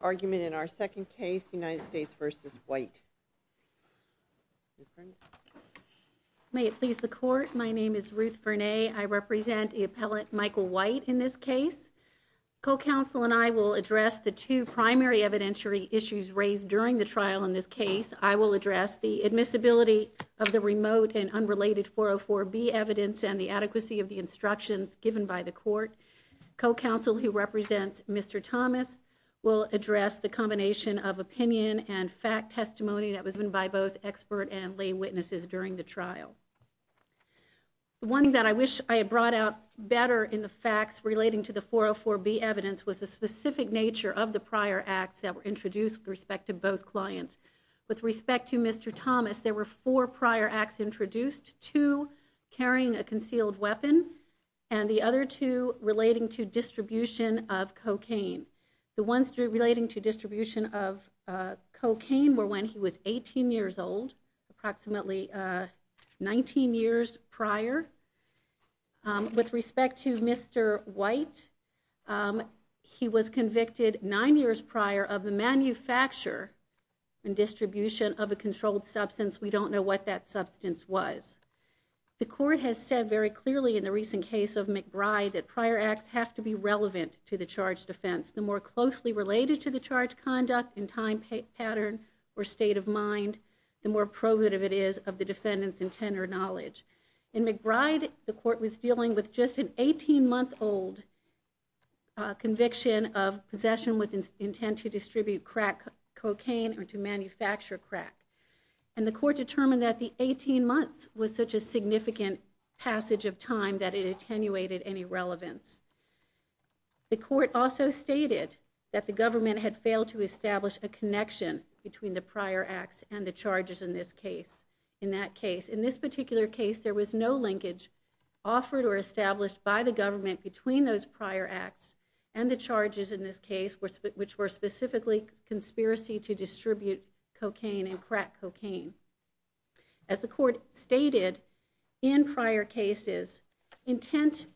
argument in our second case, United States v. White. May it please the court, my name is Ruth Verne, I represent the appellate Michael White in this case. Co-counsel and I will address the two primary evidentiary issues raised during the trial in this case. I will address the admissibility of the remote and unrelated 404B evidence and the adequacy of the instructions given by the court. Co-counsel who represents Mr. Thomas will address the combination of opinion and fact testimony that was given by both expert and lay witnesses during the trial. One thing that I wish I had brought out better in the facts relating to the 404B evidence was the specific nature of the prior acts that were introduced with respect to both clients. With respect to Mr. Thomas, there were four prior acts introduced, two carrying a concealed weapon and the other two relating to distribution of cocaine. The ones relating to distribution of cocaine were when he was 18 years old, approximately 19 years prior. With respect to Mr. White, he was convicted nine years prior of the manufacture and distribution of a controlled substance, we don't know what that substance was. The court has said very clearly in the recent case of McBride that prior acts have to be relevant to the charge defense. The more closely related to the charge conduct and time pattern or state of mind, the more probative it is of the defendant's intent or knowledge. In McBride, the court was dealing with just an 18 month old conviction of possession with intent to distribute crack cocaine or to manufacture crack. And the court determined that the 18 months was such a significant passage of time that it attenuated any relevance. The court also stated that the government had failed to establish a connection between the prior acts and the charges in this case, in that case. In this particular case, there was no linkage offered or established by the government between those prior acts and the charges in this case, which were specifically conspiracy to distribute cocaine and crack cocaine. As the court stated in prior cases, intent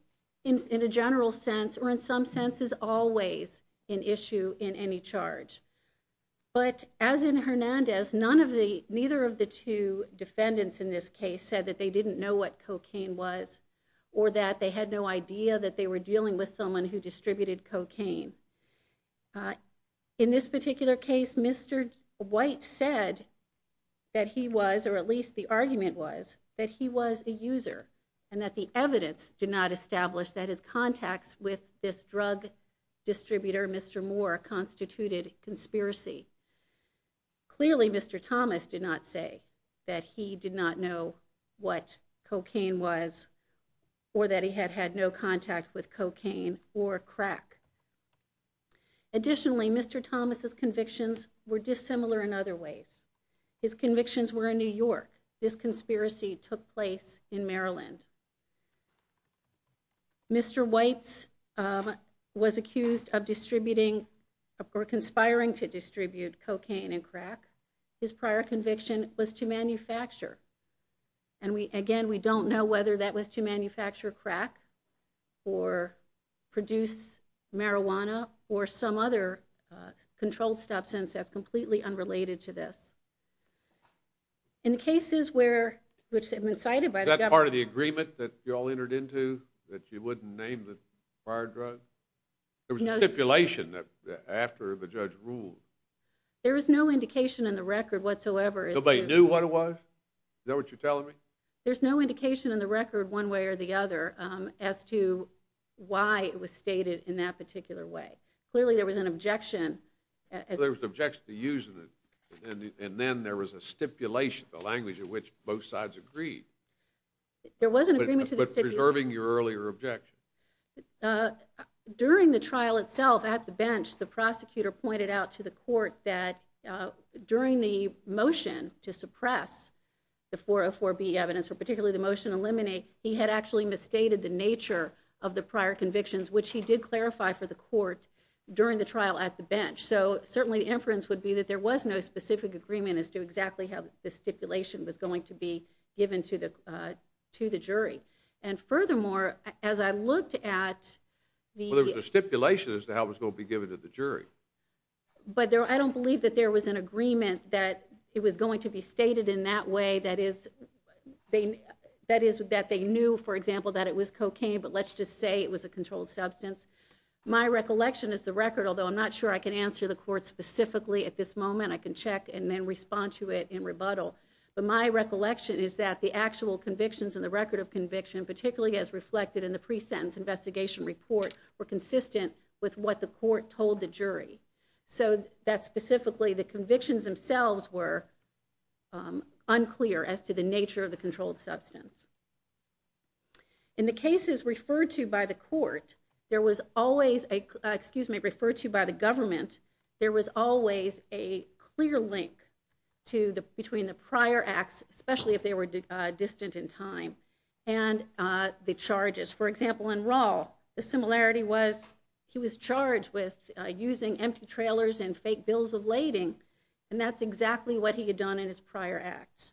in a general sense or in some senses always an issue in any charge. But as in Hernandez, none of the, neither of the two defendants in this case said that they didn't know what cocaine was or that they had no idea that they were dealing with someone who distributed cocaine. In this particular case, Mr. White said that he was, or at least the argument was, that he was a user and that the evidence did not establish that his contacts with this drug distributor, Mr. Moore, constituted conspiracy. Clearly, Mr. Thomas did not say that he did not know what cocaine was or that he had had no contact with cocaine or crack. Additionally, Mr. Thomas' convictions were dissimilar in other ways. His convictions were in New York. This conspiracy took place in Maryland. Mr. White was accused of distributing or conspiring to distribute cocaine and crack. His prior conviction was to manufacture. And again, we don't know whether that was to manufacture crack or produce marijuana or some other controlled substance that's completely unrelated to this. In cases where, which have been cited by the government. Is that part of the agreement that you all entered into, that you wouldn't name the prior drug? There was a stipulation that after the judge ruled. There is no indication in the record whatsoever. Nobody knew what it was? Is that what you're telling me? There's no indication in the record one way or the other as to why it was stated in that particular way. Clearly there was an objection. There was an objection to using it. And then there was a stipulation, the language in which both sides agreed. There was an agreement to the stipulation. But preserving your earlier objection. During the trial itself at the bench, the prosecutor pointed out to the court that during the motion to suppress the 404B evidence, or particularly the motion to eliminate, he had actually misstated the nature of the prior convictions, which he did clarify for the court during the trial at the bench. So certainly the inference would be that there was no specific agreement as to exactly how the stipulation was going to be given to the jury. And furthermore, as I looked at the. Well there was a stipulation as to how it was going to be given to the jury. But I don't believe that there was an agreement that it was going to be stated in that way. That is, that they knew, for example, that it was cocaine. But let's just say it was a controlled substance. My recollection is the record, although I'm not sure I can answer the court specifically at this moment. I can check and then respond to it in rebuttal. But my recollection is that the actual convictions in the record of conviction, particularly as reflected in the pre-sentence investigation report, were consistent with what the court told the jury. So that specifically the convictions themselves were unclear as to the nature of the controlled substance. In the cases referred to by the court, there was always a, excuse me, referred to by the government, there was always a clear link between the prior acts, especially if they were distant in time, and the charges. For example, in Rall, the similarity was he was charged with using empty trailers and fake bills of lading, and that's exactly what he had done in his prior acts.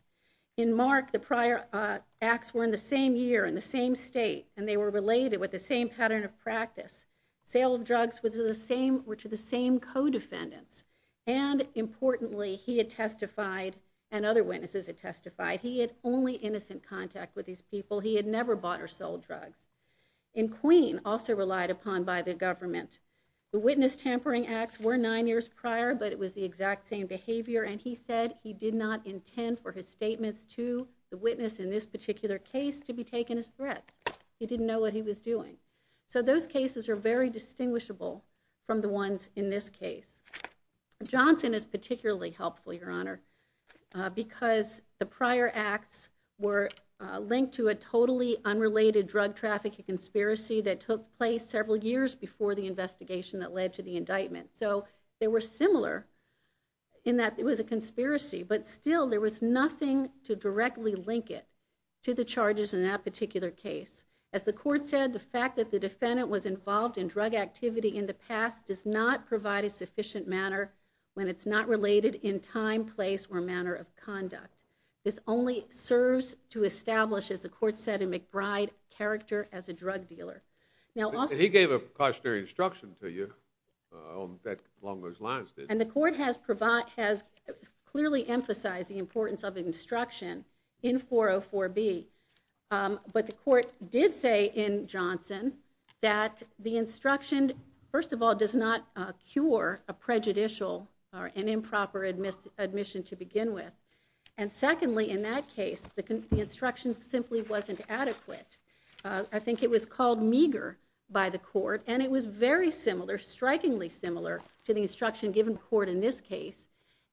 In Mark, the prior acts were in the same year, in the same state, and they were related with the same pattern of practice. Sale of drugs were to the same co-defendants. And importantly, he had testified, and other witnesses had testified, he had only innocent contact with these people. He had never bought or sold drugs. In Queen, also relied upon by the government. The witness tampering acts were nine years prior, but it was the exact same behavior, and he said he did not intend for his statements to the witness in this particular case to be taken as threats. He didn't know what he was doing. So those cases are very distinguishable from the ones in this case. Johnson is particularly helpful, Your Honor, because the prior acts were linked to a totally unrelated drug trafficking conspiracy that took place several years before the investigation that led to the indictment. So they were similar in that it was a conspiracy, but still there was nothing to directly link it to the charges in that particular case. As the court said, the fact that the defendant was involved in drug activity in the past does not provide a sufficient manner when it's not related in time, place, or manner of conduct. This only serves to establish, as the court said in McBride, character as a drug dealer. He gave a cautionary instruction to you along those lines. And the court has clearly emphasized the importance of instruction in 404B. But the court did say in Johnson that the instruction, first of all, does not cure a prejudicial or an improper admission to begin with. And secondly, in that case, the instruction simply wasn't adequate. I think it was called meager by the court, and it was very similar, strikingly similar, to the instruction given to the court in this case.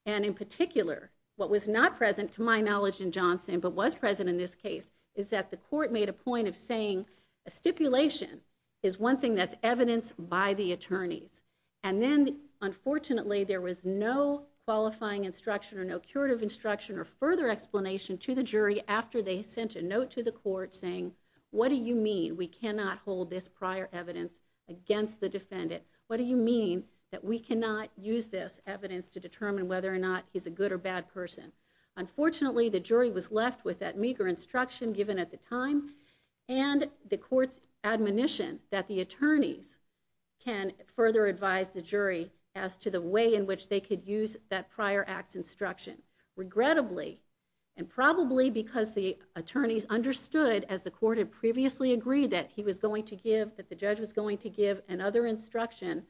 And in particular, what was not present to my knowledge in Johnson, but was present in this case, is that the court made a point of saying a stipulation is one thing that's evidenced by the attorneys. And then, unfortunately, there was no qualifying instruction or no curative instruction or further explanation to the jury after they sent a note to the court saying, what do you mean we cannot hold this prior evidence against the defendant? What do you mean that we cannot use this evidence to determine whether or not he's a good or bad person? Unfortunately, the jury was left with that meager instruction given at the time, and the court's admonition that the attorneys can further advise the jury as to the way in which they could use that prior acts instruction. Regrettably, and probably because the attorneys understood, as the court had previously agreed that he was going to give, that the judge was going to give another instruction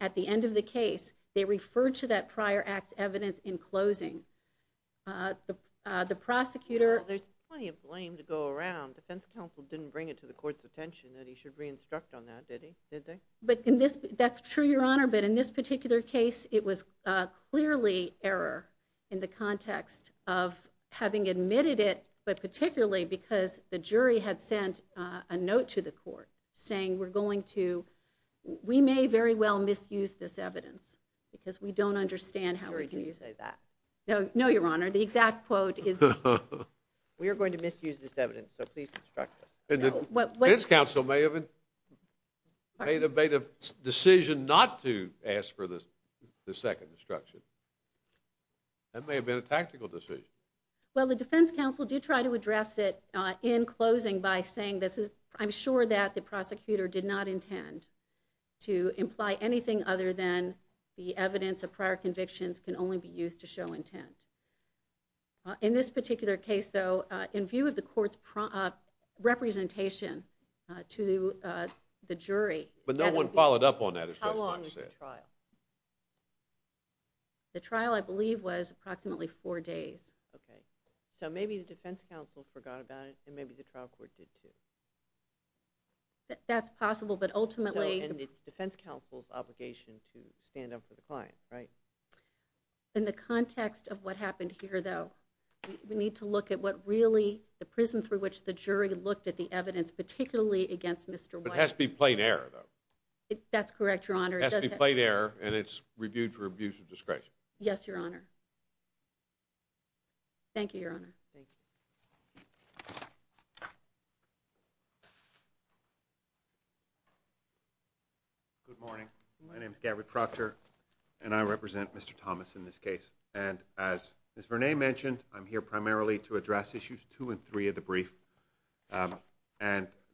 at the end of the case, they referred to that prior acts evidence in closing. The prosecutor... There's plenty of blame to go around. Defense counsel didn't bring it to the court's attention that he should re-instruct on that, did he? That's true, Your Honor, but in this particular case, it was clearly error in the context of having admitted it, but particularly because the jury had sent a note to the court saying, we may very well misuse this evidence because we don't understand how we can use it. No, Your Honor, the exact quote is... We are going to misuse this evidence, so please instruct us. The defense counsel may have made a decision not to ask for the second instruction. That may have been a tactical decision. Well, the defense counsel did try to address it in closing by saying, I'm sure that the prosecutor did not intend to imply anything other than that the evidence of prior convictions can only be used to show intent. In this particular case, though, in view of the court's representation to the jury... But no one followed up on that. How long was the trial? The trial, I believe, was approximately four days. Okay. So maybe the defense counsel forgot about it, and maybe the trial court did, too. That's possible, but ultimately... And it's defense counsel's obligation to stand up for the client, right? In the context of what happened here, though, we need to look at what really the prison through which the jury looked at the evidence, particularly against Mr. White... But it has to be plain error, though. That's correct, Your Honor. It has to be plain error, and it's reviewed for abuse of discretion. Yes, Your Honor. Thank you, Your Honor. Thank you. Good morning. My name is Gary Proctor, and I represent Mr. Thomas in this case. And as Ms. Vernay mentioned, I'm here primarily to address Issues 2 and 3 of the brief. And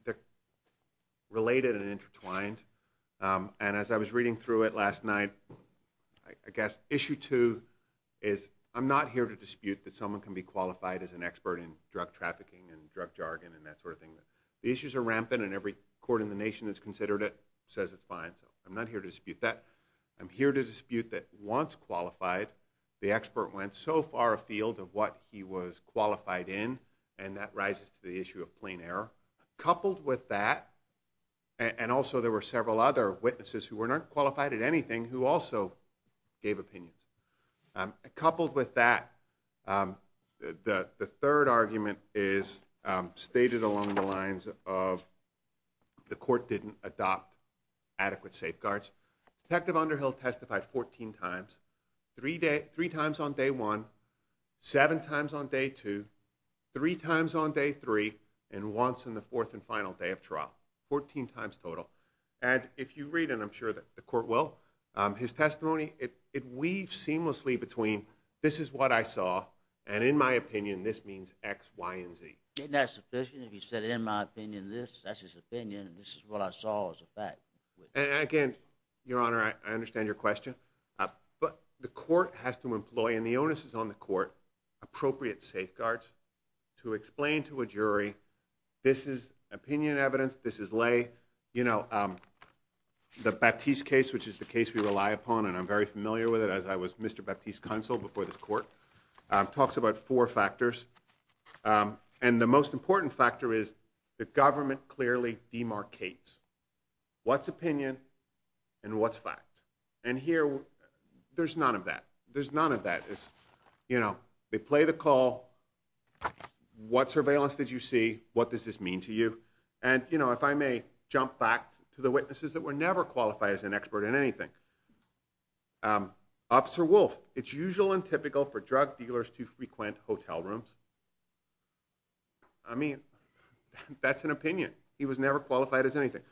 they're related and intertwined. And as I was reading through it last night, I guess Issue 2 is, I'm not here to dispute that someone can be qualified as an expert in drug trafficking and drug jargon and that sort of thing. The issues are rampant, and every court in the nation that's considered it says it's fine. So I'm not here to dispute that. I'm here to dispute that once qualified, the expert went so far afield of what he was qualified in, and that rises to the issue of plain error. Coupled with that, and also there were several other witnesses who weren't qualified at anything who also gave opinions. Coupled with that, the third argument is stated along the lines of the court didn't adopt adequate safeguards. Detective Underhill testified 14 times, three times on day one, seven times on day two, three times on day three, and once on the fourth and final day of trial, 14 times total. And if you read, and I'm sure the court will, his testimony, it weaves seamlessly between this is what I saw, and in my opinion, this means X, Y, and Z. Isn't that sufficient? If he said in my opinion this, that's his opinion, and this is what I saw as a fact. And again, Your Honor, I understand your question, but the court has to employ, and the onus is on the court, appropriate safeguards to explain to a jury this is opinion evidence, this is lay. You know, the Baptiste case, which is the case we rely upon, and I'm very familiar with it as I was Mr. Baptiste's counsel before this court, talks about four factors. And the most important factor is the government clearly demarcates what's opinion and what's fact. And here, there's none of that. There's none of that. You know, they play the call, what surveillance did you see? What does this mean to you? And, you know, if I may jump back to the witnesses that were never qualified as an expert in anything. Officer Wolf, it's usual and typical for drug dealers to frequent hotel rooms. I mean, that's an opinion. He was never qualified as anything.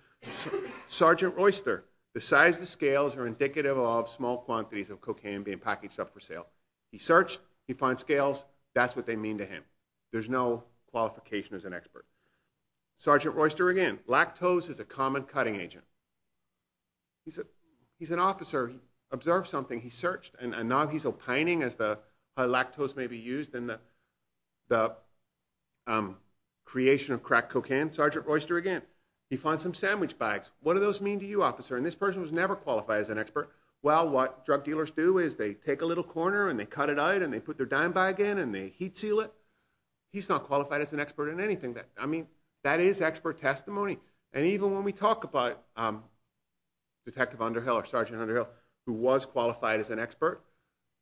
Sergeant Royster, the size of the scales are indicative of small quantities of cocaine being packaged up for sale. He searched, he found scales, that's what they mean to him. There's no qualification as an expert. Sergeant Royster, again, lactose is a common cutting agent. He's an officer, he observed something, he searched, and now he's opining as to how lactose may be used in the creation of crack cocaine. Sergeant Royster, again, he found some sandwich bags. What do those mean to you, officer? And this person was never qualified as an expert. Well, what drug dealers do is they take a little corner and they cut it out and they put their dime back in and they heat seal it. He's not qualified as an expert in anything. I mean, that is expert testimony. And even when we talk about Detective Underhill or Sergeant Underhill, who was qualified as an expert,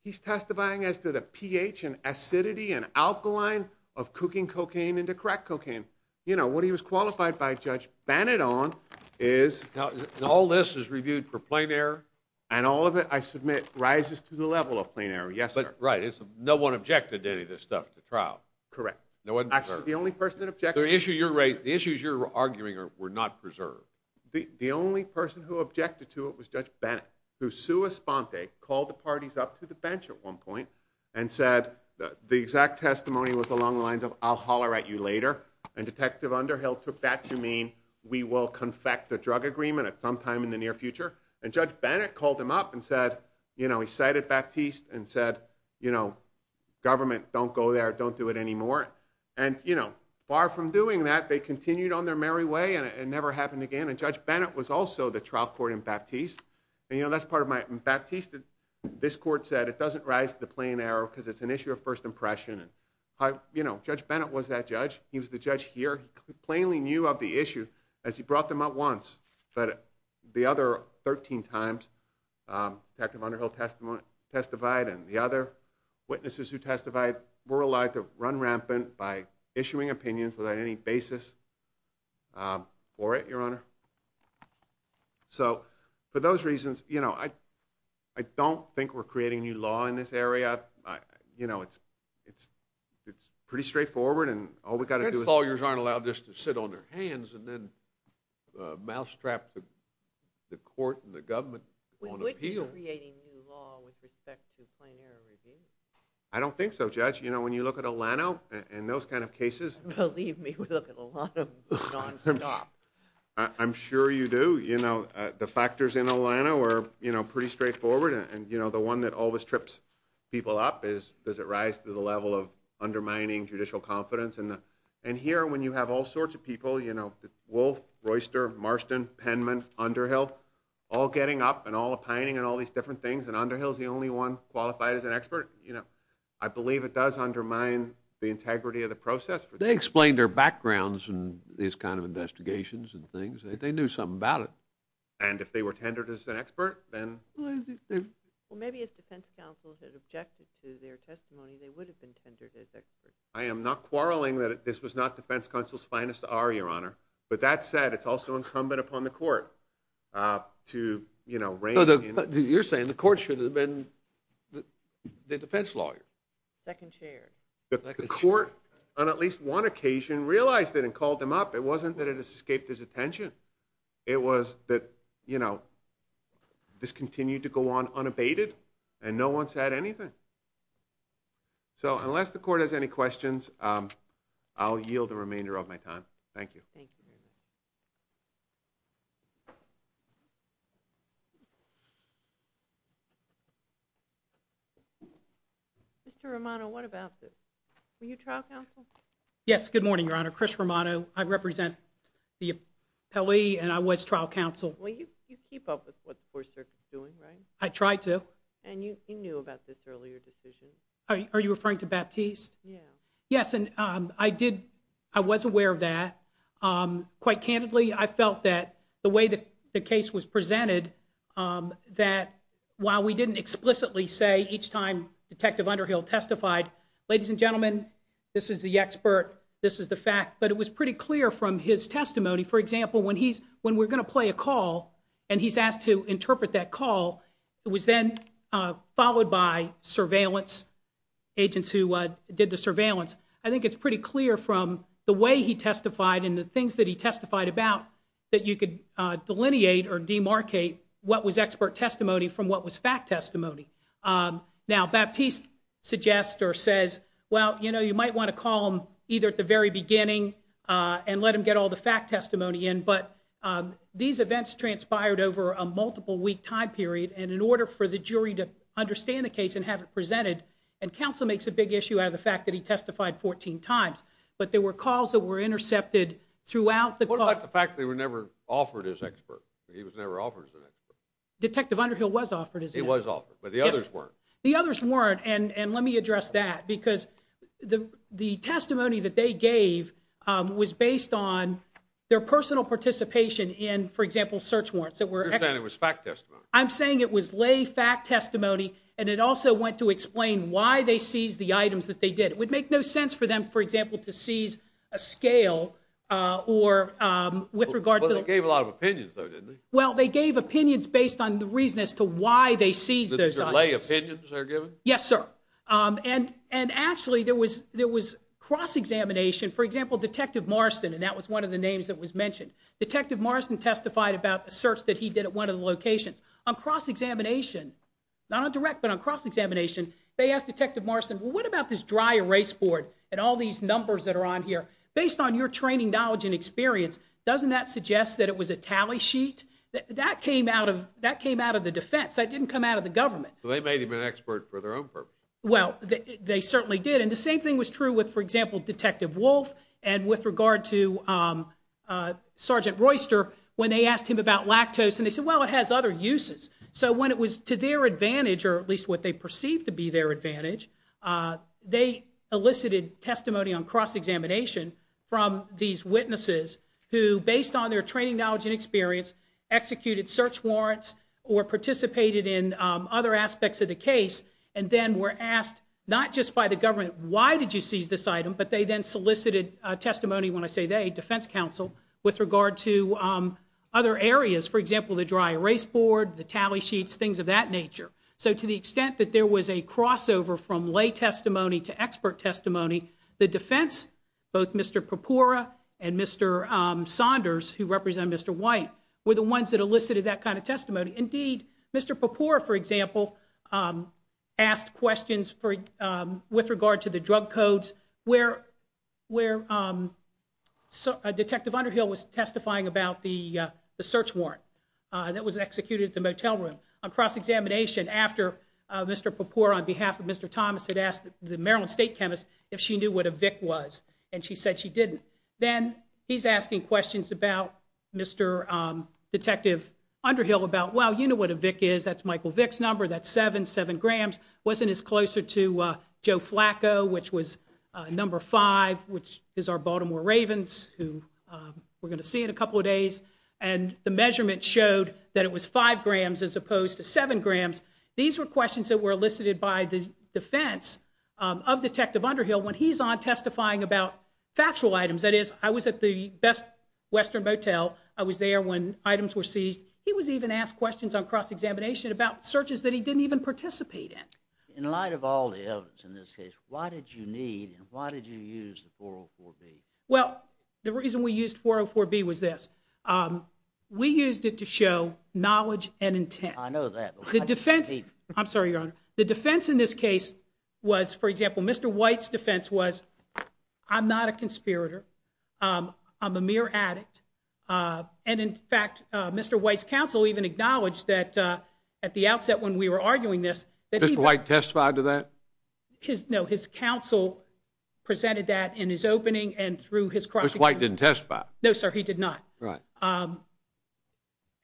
he's testifying as to the pH and acidity and alkaline of cooking cocaine into crack cocaine. You know, what he was qualified by, Judge Bannadon, is... Now, all this is reviewed for plain error? And all of it, I submit, rises to the level of plain error. Yes, sir. Right. No one objected to any of this stuff at the trial? Correct. No one observed? Actually, the only person that objected... So the issues you're arguing were not preserved? The only person who objected to it was Judge Bennett, who sua sponte, called the parties up to the bench at one point, and said the exact testimony was along the lines of, I'll holler at you later, and Detective Underhill took that to mean, we will confect a drug agreement at some time in the near future. And Judge Bennett called him up and said, you know, he cited Baptiste, and said, you know, government, don't go there, don't do it anymore. And, you know, far from doing that, they continued on their merry way, and it never happened again. And Judge Bennett was also the trial court in Baptiste. And, you know, that's part of my... In Baptiste, this court said, it doesn't rise to the plain error because it's an issue of first impression. And, you know, Judge Bennett was that judge. He was the judge here. He plainly knew of the issue, as he brought them up once. But the other 13 times, Detective Underhill testified, and the other witnesses who testified were allowed to run rampant by issuing opinions without any basis for it, Your Honor. So for those reasons, you know, I don't think we're creating new law in this area. You know, it's pretty straightforward, and all we've got to do is... mousetrap the court and the government on appeal. Would you be creating new law with respect to plain error review? I don't think so, Judge. You know, when you look at Olano and those kind of cases... Believe me, we look at a lot of non-stop. I'm sure you do. You know, the factors in Olano are, you know, pretty straightforward. And, you know, the one that always trips people up is, does it rise to the level of undermining judicial confidence? And here, when you have all sorts of people, you know, Wolf, Royster, Marston, Penman, Underhill, all getting up and all opining and all these different things, and Underhill's the only one qualified as an expert, you know, I believe it does undermine the integrity of the process. They explained their backgrounds in these kind of investigations and things. They knew something about it. And if they were tendered as an expert, then... Well, maybe if defense counsels had objected to their testimony, they would have been tendered as experts. I am not quarreling that this was not defense counsel's finest hour, Your Honor, but that said, it's also incumbent upon the court to, you know, rein in... You're saying the court should have been the defense lawyer. Second chair. The court, on at least one occasion, realized it and called him up. It wasn't that it escaped his attention. It was that, you know, this continued to go on unabated, and no one said anything. So unless the court has any questions, I'll yield the remainder of my time. Thank you. Mr. Romano, what about this? Were you trial counsel? Yes, good morning, Your Honor. Chris Romano. I represent the appellee, and I was trial counsel. Well, you keep up with what the Fourth Circuit's doing, right? I try to. And you knew about this earlier decision. Are you referring to Baptiste? Yes, and I did. I was aware of that. Quite candidly, I felt that the way the case was presented, that while we didn't explicitly say each time Detective Underhill testified, ladies and gentlemen, this is the expert, this is the fact, but it was pretty clear from his testimony. For example, when we're going to play a call, and he's asked to interpret that call, it was then followed by surveillance agents who did the surveillance. I think it's pretty clear from the way he testified and the things that he testified about that you could delineate or demarcate what was expert testimony from what was fact testimony. Now, Baptiste suggests or says, well, you know, you might want to call him either at the very beginning and let him get all the fact testimony in, but these events transpired over a multiple-week time period, and in order for the jury to understand the case and have it presented, and counsel makes a big issue out of the fact that he testified 14 times, but there were calls that were intercepted throughout the call. What about the fact that he was never offered as an expert? Detective Underhill was offered as an expert. He was offered, but the others weren't. The others weren't, and let me address that, because the testimony that they gave was based on their personal participation in, for example, search warrants. You're saying it was fact testimony. I'm saying it was lay fact testimony, and it also went to explain why they seized the items that they did. It would make no sense for them, for example, to seize a scale with regard to the- But they gave a lot of opinions, though, didn't they? Well, they gave opinions based on the reason as to why they seized those items. The lay opinions they were given? Yes, sir, and actually there was cross-examination. For example, Detective Marston, and that was one of the names that was mentioned. Detective Marston testified about a search that he did at one of the locations. On cross-examination, not on direct, but on cross-examination, they asked Detective Marston, well, what about this dry erase board and all these numbers that are on here? Based on your training, knowledge, and experience, doesn't that suggest that it was a tally sheet? That came out of the defense. That didn't come out of the government. They made him an expert for their own purpose. Well, they certainly did, and the same thing was true with, for example, Detective Wolfe and with regard to Sergeant Royster. When they asked him about lactose, and they said, well, it has other uses. So when it was to their advantage, or at least what they perceived to be their advantage, they elicited testimony on cross-examination from these witnesses who, based on their training, knowledge, and experience, executed search warrants or participated in other aspects of the case and then were asked not just by the government, why did you seize this item, but they then solicited testimony, when I say they, defense counsel, with regard to other areas, for example, the dry erase board, the tally sheets, things of that nature. So to the extent that there was a crossover from lay testimony to expert testimony, the defense, both Mr. Popora and Mr. Saunders, who represent Mr. White, were the ones that elicited that kind of testimony. Indeed, Mr. Popora, for example, asked questions with regard to the drug codes where Detective Underhill was testifying about the search warrant that was executed at the motel room. On cross-examination, after Mr. Popora, on behalf of Mr. Thomas, had asked the Maryland state chemist if she knew what a Vic was, and she said she didn't. Then he's asking questions about Mr. Detective Underhill about, well, you know what a Vic is. That's Michael Vick's number. That's seven, seven grams. It wasn't as close to Joe Flacco, which was number five, which is our Baltimore Ravens, who we're going to see in a couple of days. The measurement showed that it was five grams as opposed to seven grams. These were questions that were elicited by the defense of Detective Underhill when he's on testifying about factual items. That is, I was at the Best Western Motel. I was there when items were seized. He was even asked questions on cross-examination about searches that he didn't even participate in. In light of all the evidence in this case, why did you need and why did you use the 404B? Well, the reason we used 404B was this. We used it to show knowledge and intent. I know that. I'm sorry, Your Honor. The defense in this case was, for example, Mr. White's defense was, I'm not a conspirator. I'm a mere addict. In fact, Mr. White's counsel even acknowledged that at the outset when we were arguing this that he had- Did Mr. White testify to that? No. His counsel presented that in his opening and through his cross-examination. Mr. White didn't testify? No, sir. He did not. Right.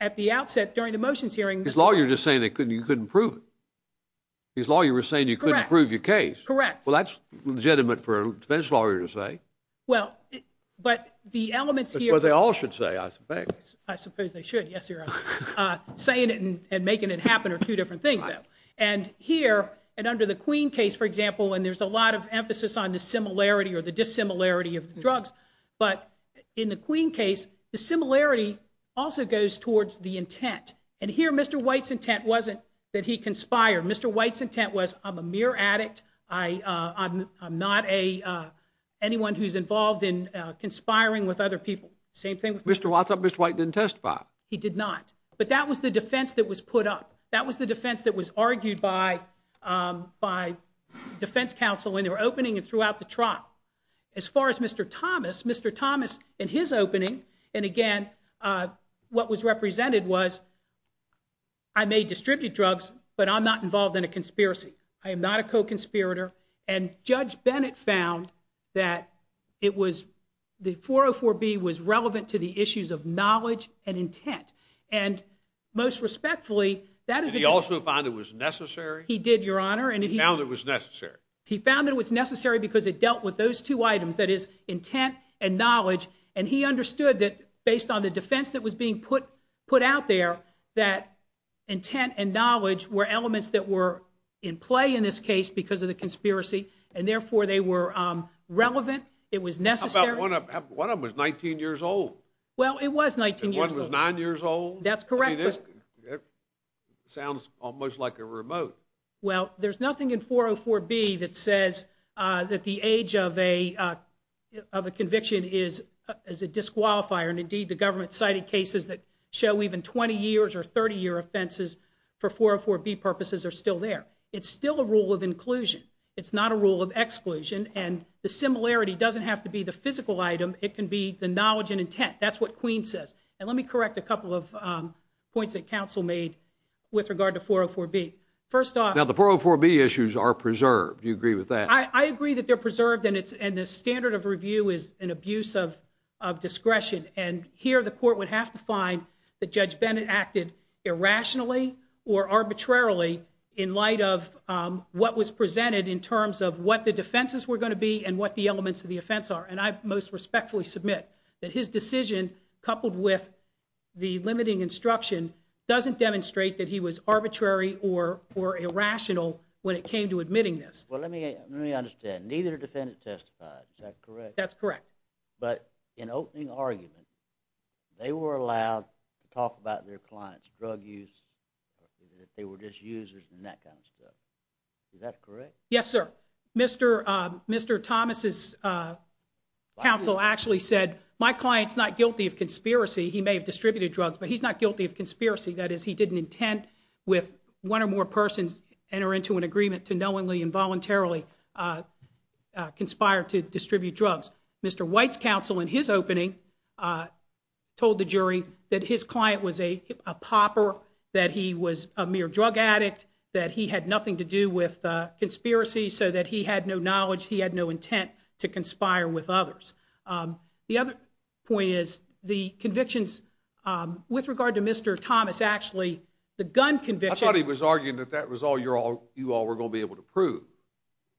At the outset during the motions hearing- His lawyer was just saying you couldn't prove it. His lawyer was saying you couldn't prove your case. Correct. Well, that's legitimate for a defense lawyer to say. Well, but the elements here- Well, they all should say, I suspect. I suppose they should. Yes, Your Honor. Saying it and making it happen are two different things, though. Here, and under the Queen case, for example, when there's a lot of emphasis on the similarity or the dissimilarity of drugs, but in the Queen case, the similarity also goes towards the intent. Here, Mr. White's intent wasn't that he conspired. Mr. White's intent was, I'm a mere addict. I'm not anyone who's involved in conspiring with other people. Same thing with Mr. White. Mr. White didn't testify. He did not. But that was the defense that was put up. That was the defense that was argued by defense counsel when they were opening and throughout the trial. As far as Mr. Thomas, Mr. Thomas, in his opening, and, again, what was represented was, I may distribute drugs, but I'm not involved in a conspiracy. I am not a co-conspirator. And Judge Bennett found that the 404B was relevant to the issues of knowledge and intent. And, most respectfully, that is a decision. Did he also find it was necessary? He did, Your Honor. He found it was necessary. He found it was necessary because it dealt with those two items, that is, intent and knowledge. And he understood that, based on the defense that was being put out there, that intent and knowledge were elements that were in play in this case because of the conspiracy, and, therefore, they were relevant. It was necessary. How about one of them was 19 years old? Well, it was 19 years old. And one was 9 years old? That's correct. That sounds almost like a remote. Well, there's nothing in 404B that says that the age of a conviction is a disqualifier. And, indeed, the government cited cases that show even 20 years or 30-year offenses for 404B purposes are still there. It's still a rule of inclusion. It's not a rule of exclusion. And the similarity doesn't have to be the physical item. It can be the knowledge and intent. That's what Queen says. And let me correct a couple of points that counsel made with regard to 404B. First off – Now, the 404B issues are preserved. Do you agree with that? I agree that they're preserved, and the standard of review is an abuse of discretion. And here the court would have to find that Judge Bennett acted irrationally or arbitrarily in light of what was presented in terms of what the defenses were going to be and what the elements of the offense are. And I most respectfully submit that his decision, coupled with the limiting instruction, doesn't demonstrate that he was arbitrary or irrational when it came to admitting this. Well, let me understand. Neither defendant testified. Is that correct? That's correct. But in opening argument, they were allowed to talk about their clients' drug use, that they were just users and that kind of stuff. Is that correct? Yes, sir. Mr. Thomas's counsel actually said, my client's not guilty of conspiracy. He may have distributed drugs, but he's not guilty of conspiracy. That is, he didn't intend with one or more persons enter into an agreement to knowingly or involuntarily conspire to distribute drugs. Mr. White's counsel, in his opening, told the jury that his client was a popper, that he was a mere drug addict, that he had nothing to do with conspiracy, so that he had no knowledge, he had no intent to conspire with others. The other point is the convictions with regard to Mr. Thomas actually, the gun conviction. I thought he was arguing that that was all you all were going to be able to prove,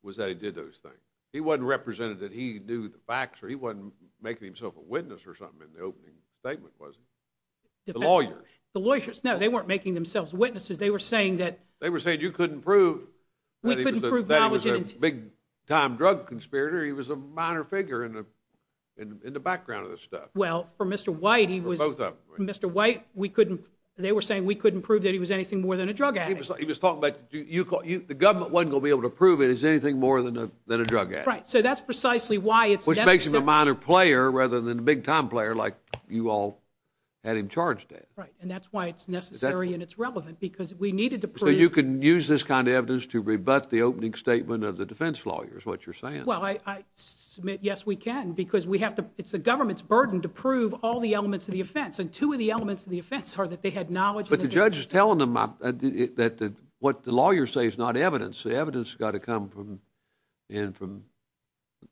was that he did those things. He wasn't representing that he knew the facts, or he wasn't making himself a witness or something in the opening statement, was he? The lawyers. The lawyers, no, they weren't making themselves witnesses. They were saying that. They were saying you couldn't prove that he was a big-time drug conspirator. He was a minor figure in the background of this stuff. Well, for Mr. White, he was. For both of them. For Mr. White, they were saying we couldn't prove that he was anything more than a drug addict. He was talking about the government wasn't going to be able to prove that he was anything more than a drug addict. Right, so that's precisely why it's necessary. Which makes him a minor player rather than a big-time player like you all had him charged as. Right, and that's why it's necessary and it's relevant because we needed to prove. So you can use this kind of evidence to rebut the opening statement of the defense lawyers, what you're saying. Well, I submit, yes, we can, because it's the government's burden to prove all the elements of the offense, and two of the elements of the offense are that they had knowledge. But the judge is telling them that what the lawyers say is not evidence. The evidence has got to come in from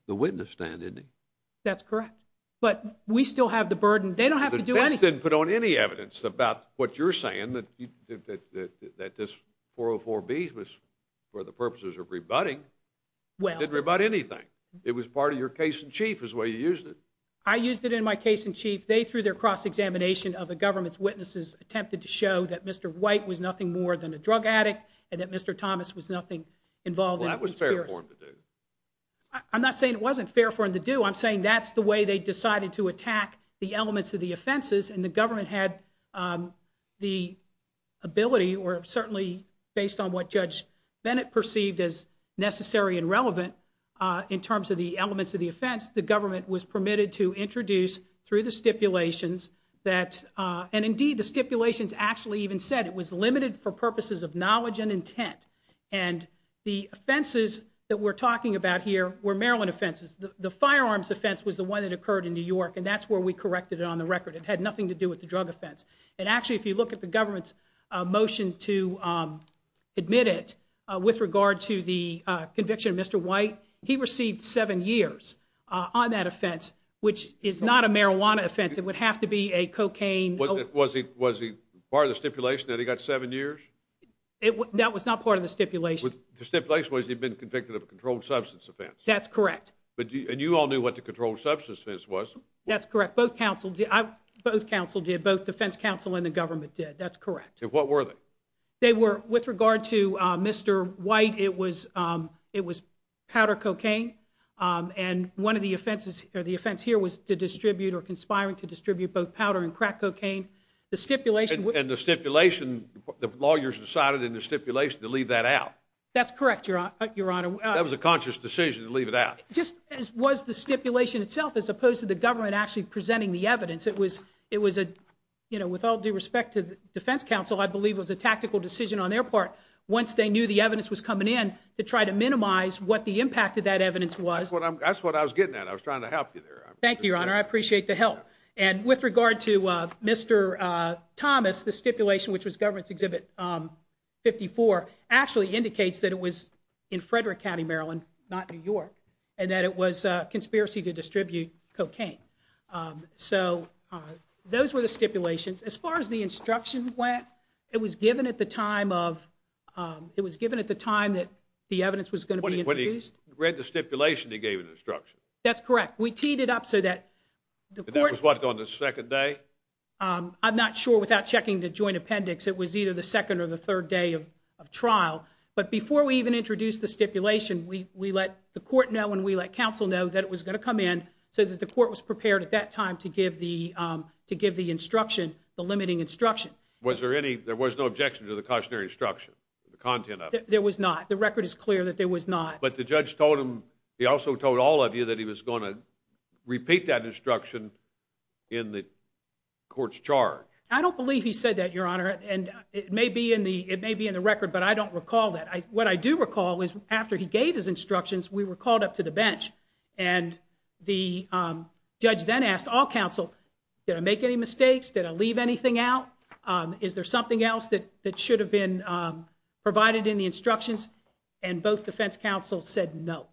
the witness stand, isn't it? That's correct. But we still have the burden. They don't have to do anything. The defense didn't put on any evidence about what you're saying, that this 404B was for the purposes of rebutting. It didn't rebut anything. It was part of your case in chief is the way you used it. I used it in my case in chief. They, through their cross-examination of the government's witnesses, attempted to show that Mr. White was nothing more than a drug addict and that Mr. Thomas was nothing involved in the conspiracy. Well, that was fair for him to do. I'm not saying it wasn't fair for him to do. I'm saying that's the way they decided to attack the elements of the offenses, and the government had the ability, or certainly based on what Judge Bennett perceived as necessary and relevant, in terms of the elements of the offense, the government was permitted to introduce through the stipulations that, and indeed the stipulations actually even said it was limited for purposes of knowledge and intent. And the offenses that we're talking about here were Maryland offenses. The firearms offense was the one that occurred in New York, and that's where we corrected it on the record. It had nothing to do with the drug offense. And actually if you look at the government's motion to admit it, with regard to the conviction of Mr. White, he received seven years on that offense, which is not a marijuana offense. It would have to be a cocaine. Was he part of the stipulation that he got seven years? That was not part of the stipulation. The stipulation was he'd been convicted of a controlled substance offense. That's correct. And you all knew what the controlled substance offense was. That's correct. Both counsel did, both defense counsel and the government did. That's correct. And what were they? With regard to Mr. White, it was powder cocaine. And one of the offenses, or the offense here, was to distribute or conspiring to distribute both powder and crack cocaine. And the stipulation, the lawyers decided in the stipulation to leave that out. That's correct, Your Honor. That was a conscious decision to leave it out. Just as was the stipulation itself, as opposed to the government actually presenting the evidence. It was, you know, with all due respect to the defense counsel, I believe it was a tactical decision on their part. Once they knew the evidence was coming in, to try to minimize what the impact of that evidence was. That's what I was getting at. I was trying to help you there. Thank you, Your Honor. I appreciate the help. And with regard to Mr. Thomas, the stipulation, which was government's Exhibit 54, actually indicates that it was in Frederick County, Maryland, not New York, and that it was a conspiracy to distribute cocaine. So those were the stipulations. As far as the instruction went, it was given at the time of, it was given at the time that the evidence was going to be introduced. When he read the stipulation, he gave an instruction. That's correct. We teed it up so that the court. And that was what, on the second day? I'm not sure, without checking the joint appendix, it was either the second or the third day of trial. But before we even introduced the stipulation, we let the court know and we let counsel know that it was going to come in, so that the court was prepared at that time to give the instruction, the limiting instruction. Was there any, there was no objection to the cautionary instruction, the content of it? There was not. The record is clear that there was not. But the judge told him, he also told all of you, that he was going to repeat that instruction in the court's charge. I don't believe he said that, Your Honor. And it may be in the record, but I don't recall that. What I do recall is after he gave his instructions, we were called up to the bench and the judge then asked all counsel, did I make any mistakes? Did I leave anything out? Is there something else that should have been provided in the instructions? And both defense counsels said no.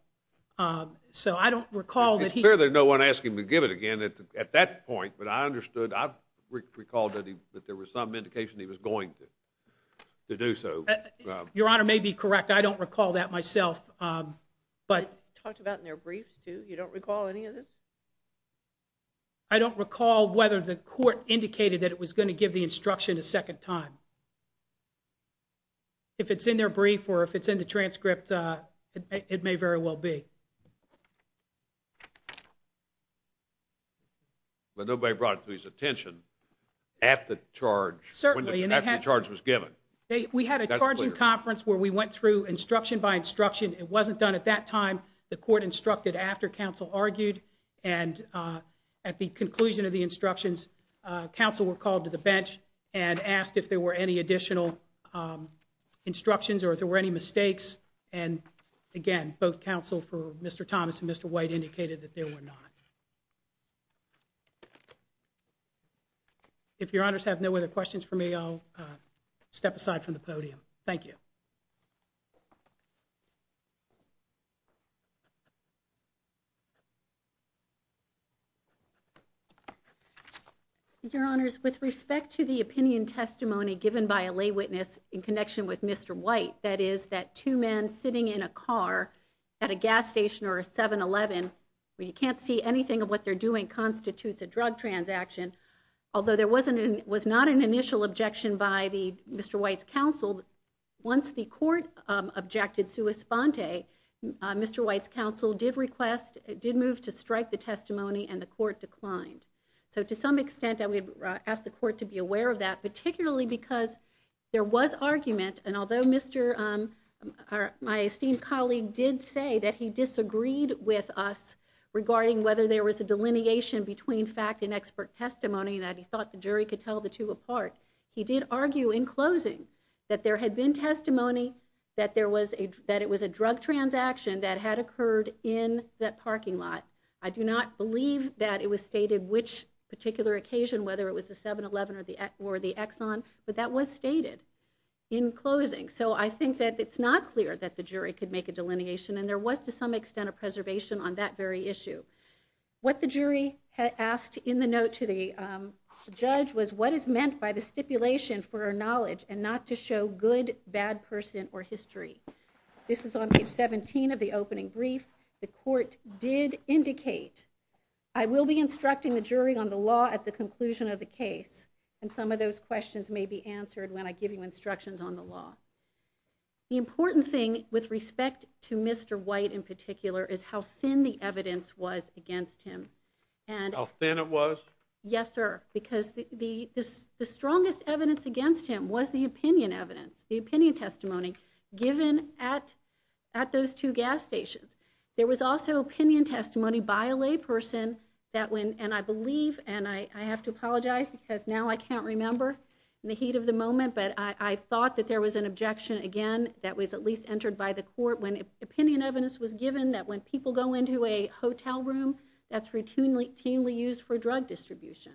So I don't recall that he. It's fair that no one asked him to give it again at that point, but I understood, I recalled that there was some indication he was going to do so. Your Honor may be correct. I don't recall that myself. It's talked about in their briefs, too. You don't recall any of this? I don't recall whether the court indicated that it was going to give the instruction a second time. If it's in their brief or if it's in the transcript, it may very well be. But nobody brought it to his attention at the charge, after the charge was given. We had a charging conference where we went through instruction by instruction. It wasn't done at that time. The court instructed after counsel argued. And at the conclusion of the instructions, counsel were called to the bench and asked if there were any additional instructions or if there were any mistakes. And again, both counsel for Mr. Thomas and Mr. White indicated that there were not. I'll step aside from the podium. Thank you. Your Honors, with respect to the opinion testimony given by a lay witness in connection with Mr. White, that is that two men sitting in a car at a gas station or a seven 11, where you can't see anything of what they're doing constitutes a drug transaction. Although there wasn't an was not an initial objection by the Mr. White's counsel. Once the court objected to a sponte, Mr. White's counsel did request did move to strike the testimony and the court declined. So to some extent, I would ask the court to be aware of that, particularly because there was argument. And although Mr. My esteemed colleague did say that he disagreed with us regarding whether there was a delineation between fact and expert testimony that he thought the jury could tell the two apart. He did argue in closing that there had been testimony that there was a, that it was a drug transaction that had occurred in that parking lot. I do not believe that it was stated which particular occasion, whether it was the seven 11 or the, or the Exxon, but that was stated in closing. So I think that it's not clear that the jury could make a delineation and there was to some extent of preservation on that very issue. What the jury had asked in the note to the judge was what is meant by the stipulation for our knowledge and not to show good, bad person or history. This is on page 17 of the opening brief. The court did indicate, I will be instructing the jury on the law at the conclusion of the case. And some of those questions may be answered when I give you instructions on the law. The important thing with respect to Mr. White in particular is how thin the evidence was against him. How thin it was? Yes, sir. Because the strongest evidence against him was the opinion evidence, the opinion testimony given at, at those two gas stations. There was also opinion testimony by a lay person that when, and I believe, and I have to apologize because now I can't remember in the heat of the moment, but I thought that there was an objection. Again, that was at least entered by the court. When opinion evidence was given that when people go into a hotel room, that's routinely, routinely used for drug distribution.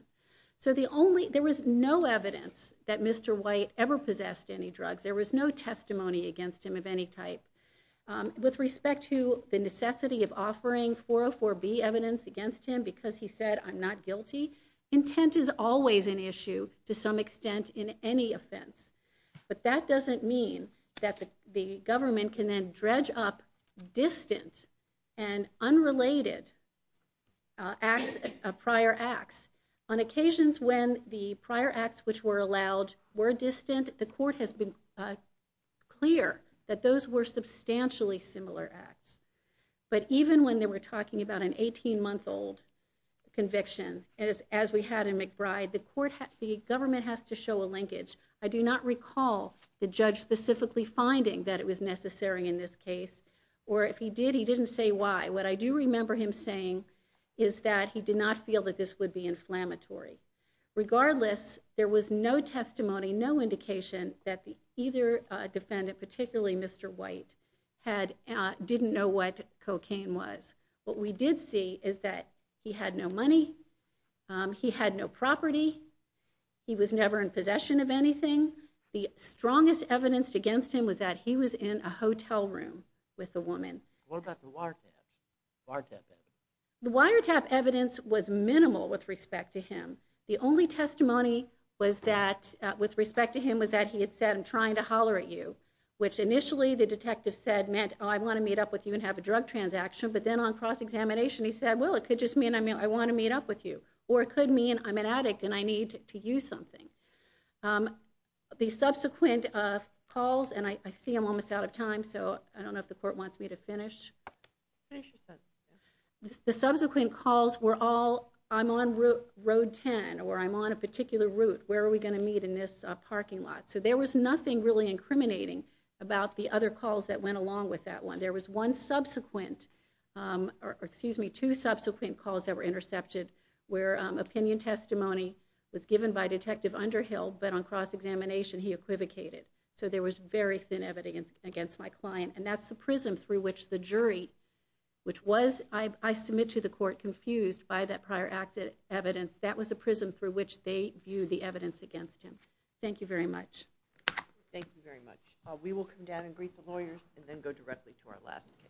So the only, there was no evidence that Mr. White ever possessed any drugs. There was no testimony against him of any type with respect to the necessity of offering 404 B evidence against him because he said, I'm not guilty. Intent is always an issue to some extent in any offense, but that doesn't mean that the government can then dredge up distant and unrelated prior acts. On occasions when the prior acts which were allowed were distant, the court has been clear that those were substantially similar acts. But even when they were talking about an 18 month old conviction, as we had in McBride, the court, the government has to show a linkage. I do not recall the judge specifically finding that it was necessary in this case, or if he did, he didn't say why. What I do remember him saying is that he did not feel that this would be inflammatory. Regardless, there was no testimony, no indication that either defendant, particularly Mr. White, didn't know what cocaine was. What we did see is that he had no money, he had no property, he was never in possession of anything. The strongest evidence against him was that he was in a hotel room with a woman. What about the wiretap evidence? The wiretap evidence was minimal with respect to him. The only testimony with respect to him was that he had said, I'm trying to holler at you, which initially the detective said meant, oh, I want to meet up with you and have a drug transaction, but then on cross-examination he said, well, it could just mean I want to meet up with you, or it could mean I'm an addict and I need to use something. The subsequent calls, and I see I'm almost out of time, so I don't know if the court wants me to finish. The subsequent calls were all, I'm on road 10, or I'm on a particular route, where are we going to meet in this parking lot? So there was nothing really incriminating about the other calls that went along with that one. There was one subsequent, or excuse me, two subsequent calls that were intercepted where opinion testimony was given by Detective Underhill, but on cross-examination he equivocated. So there was very thin evidence against my client, and that's the prism through which the jury, which was, I submit to the court, confused by that prior evidence. That was the prism through which they viewed the evidence against him. Thank you very much. Thank you very much. We will come down and greet the lawyers and then go directly to our last case.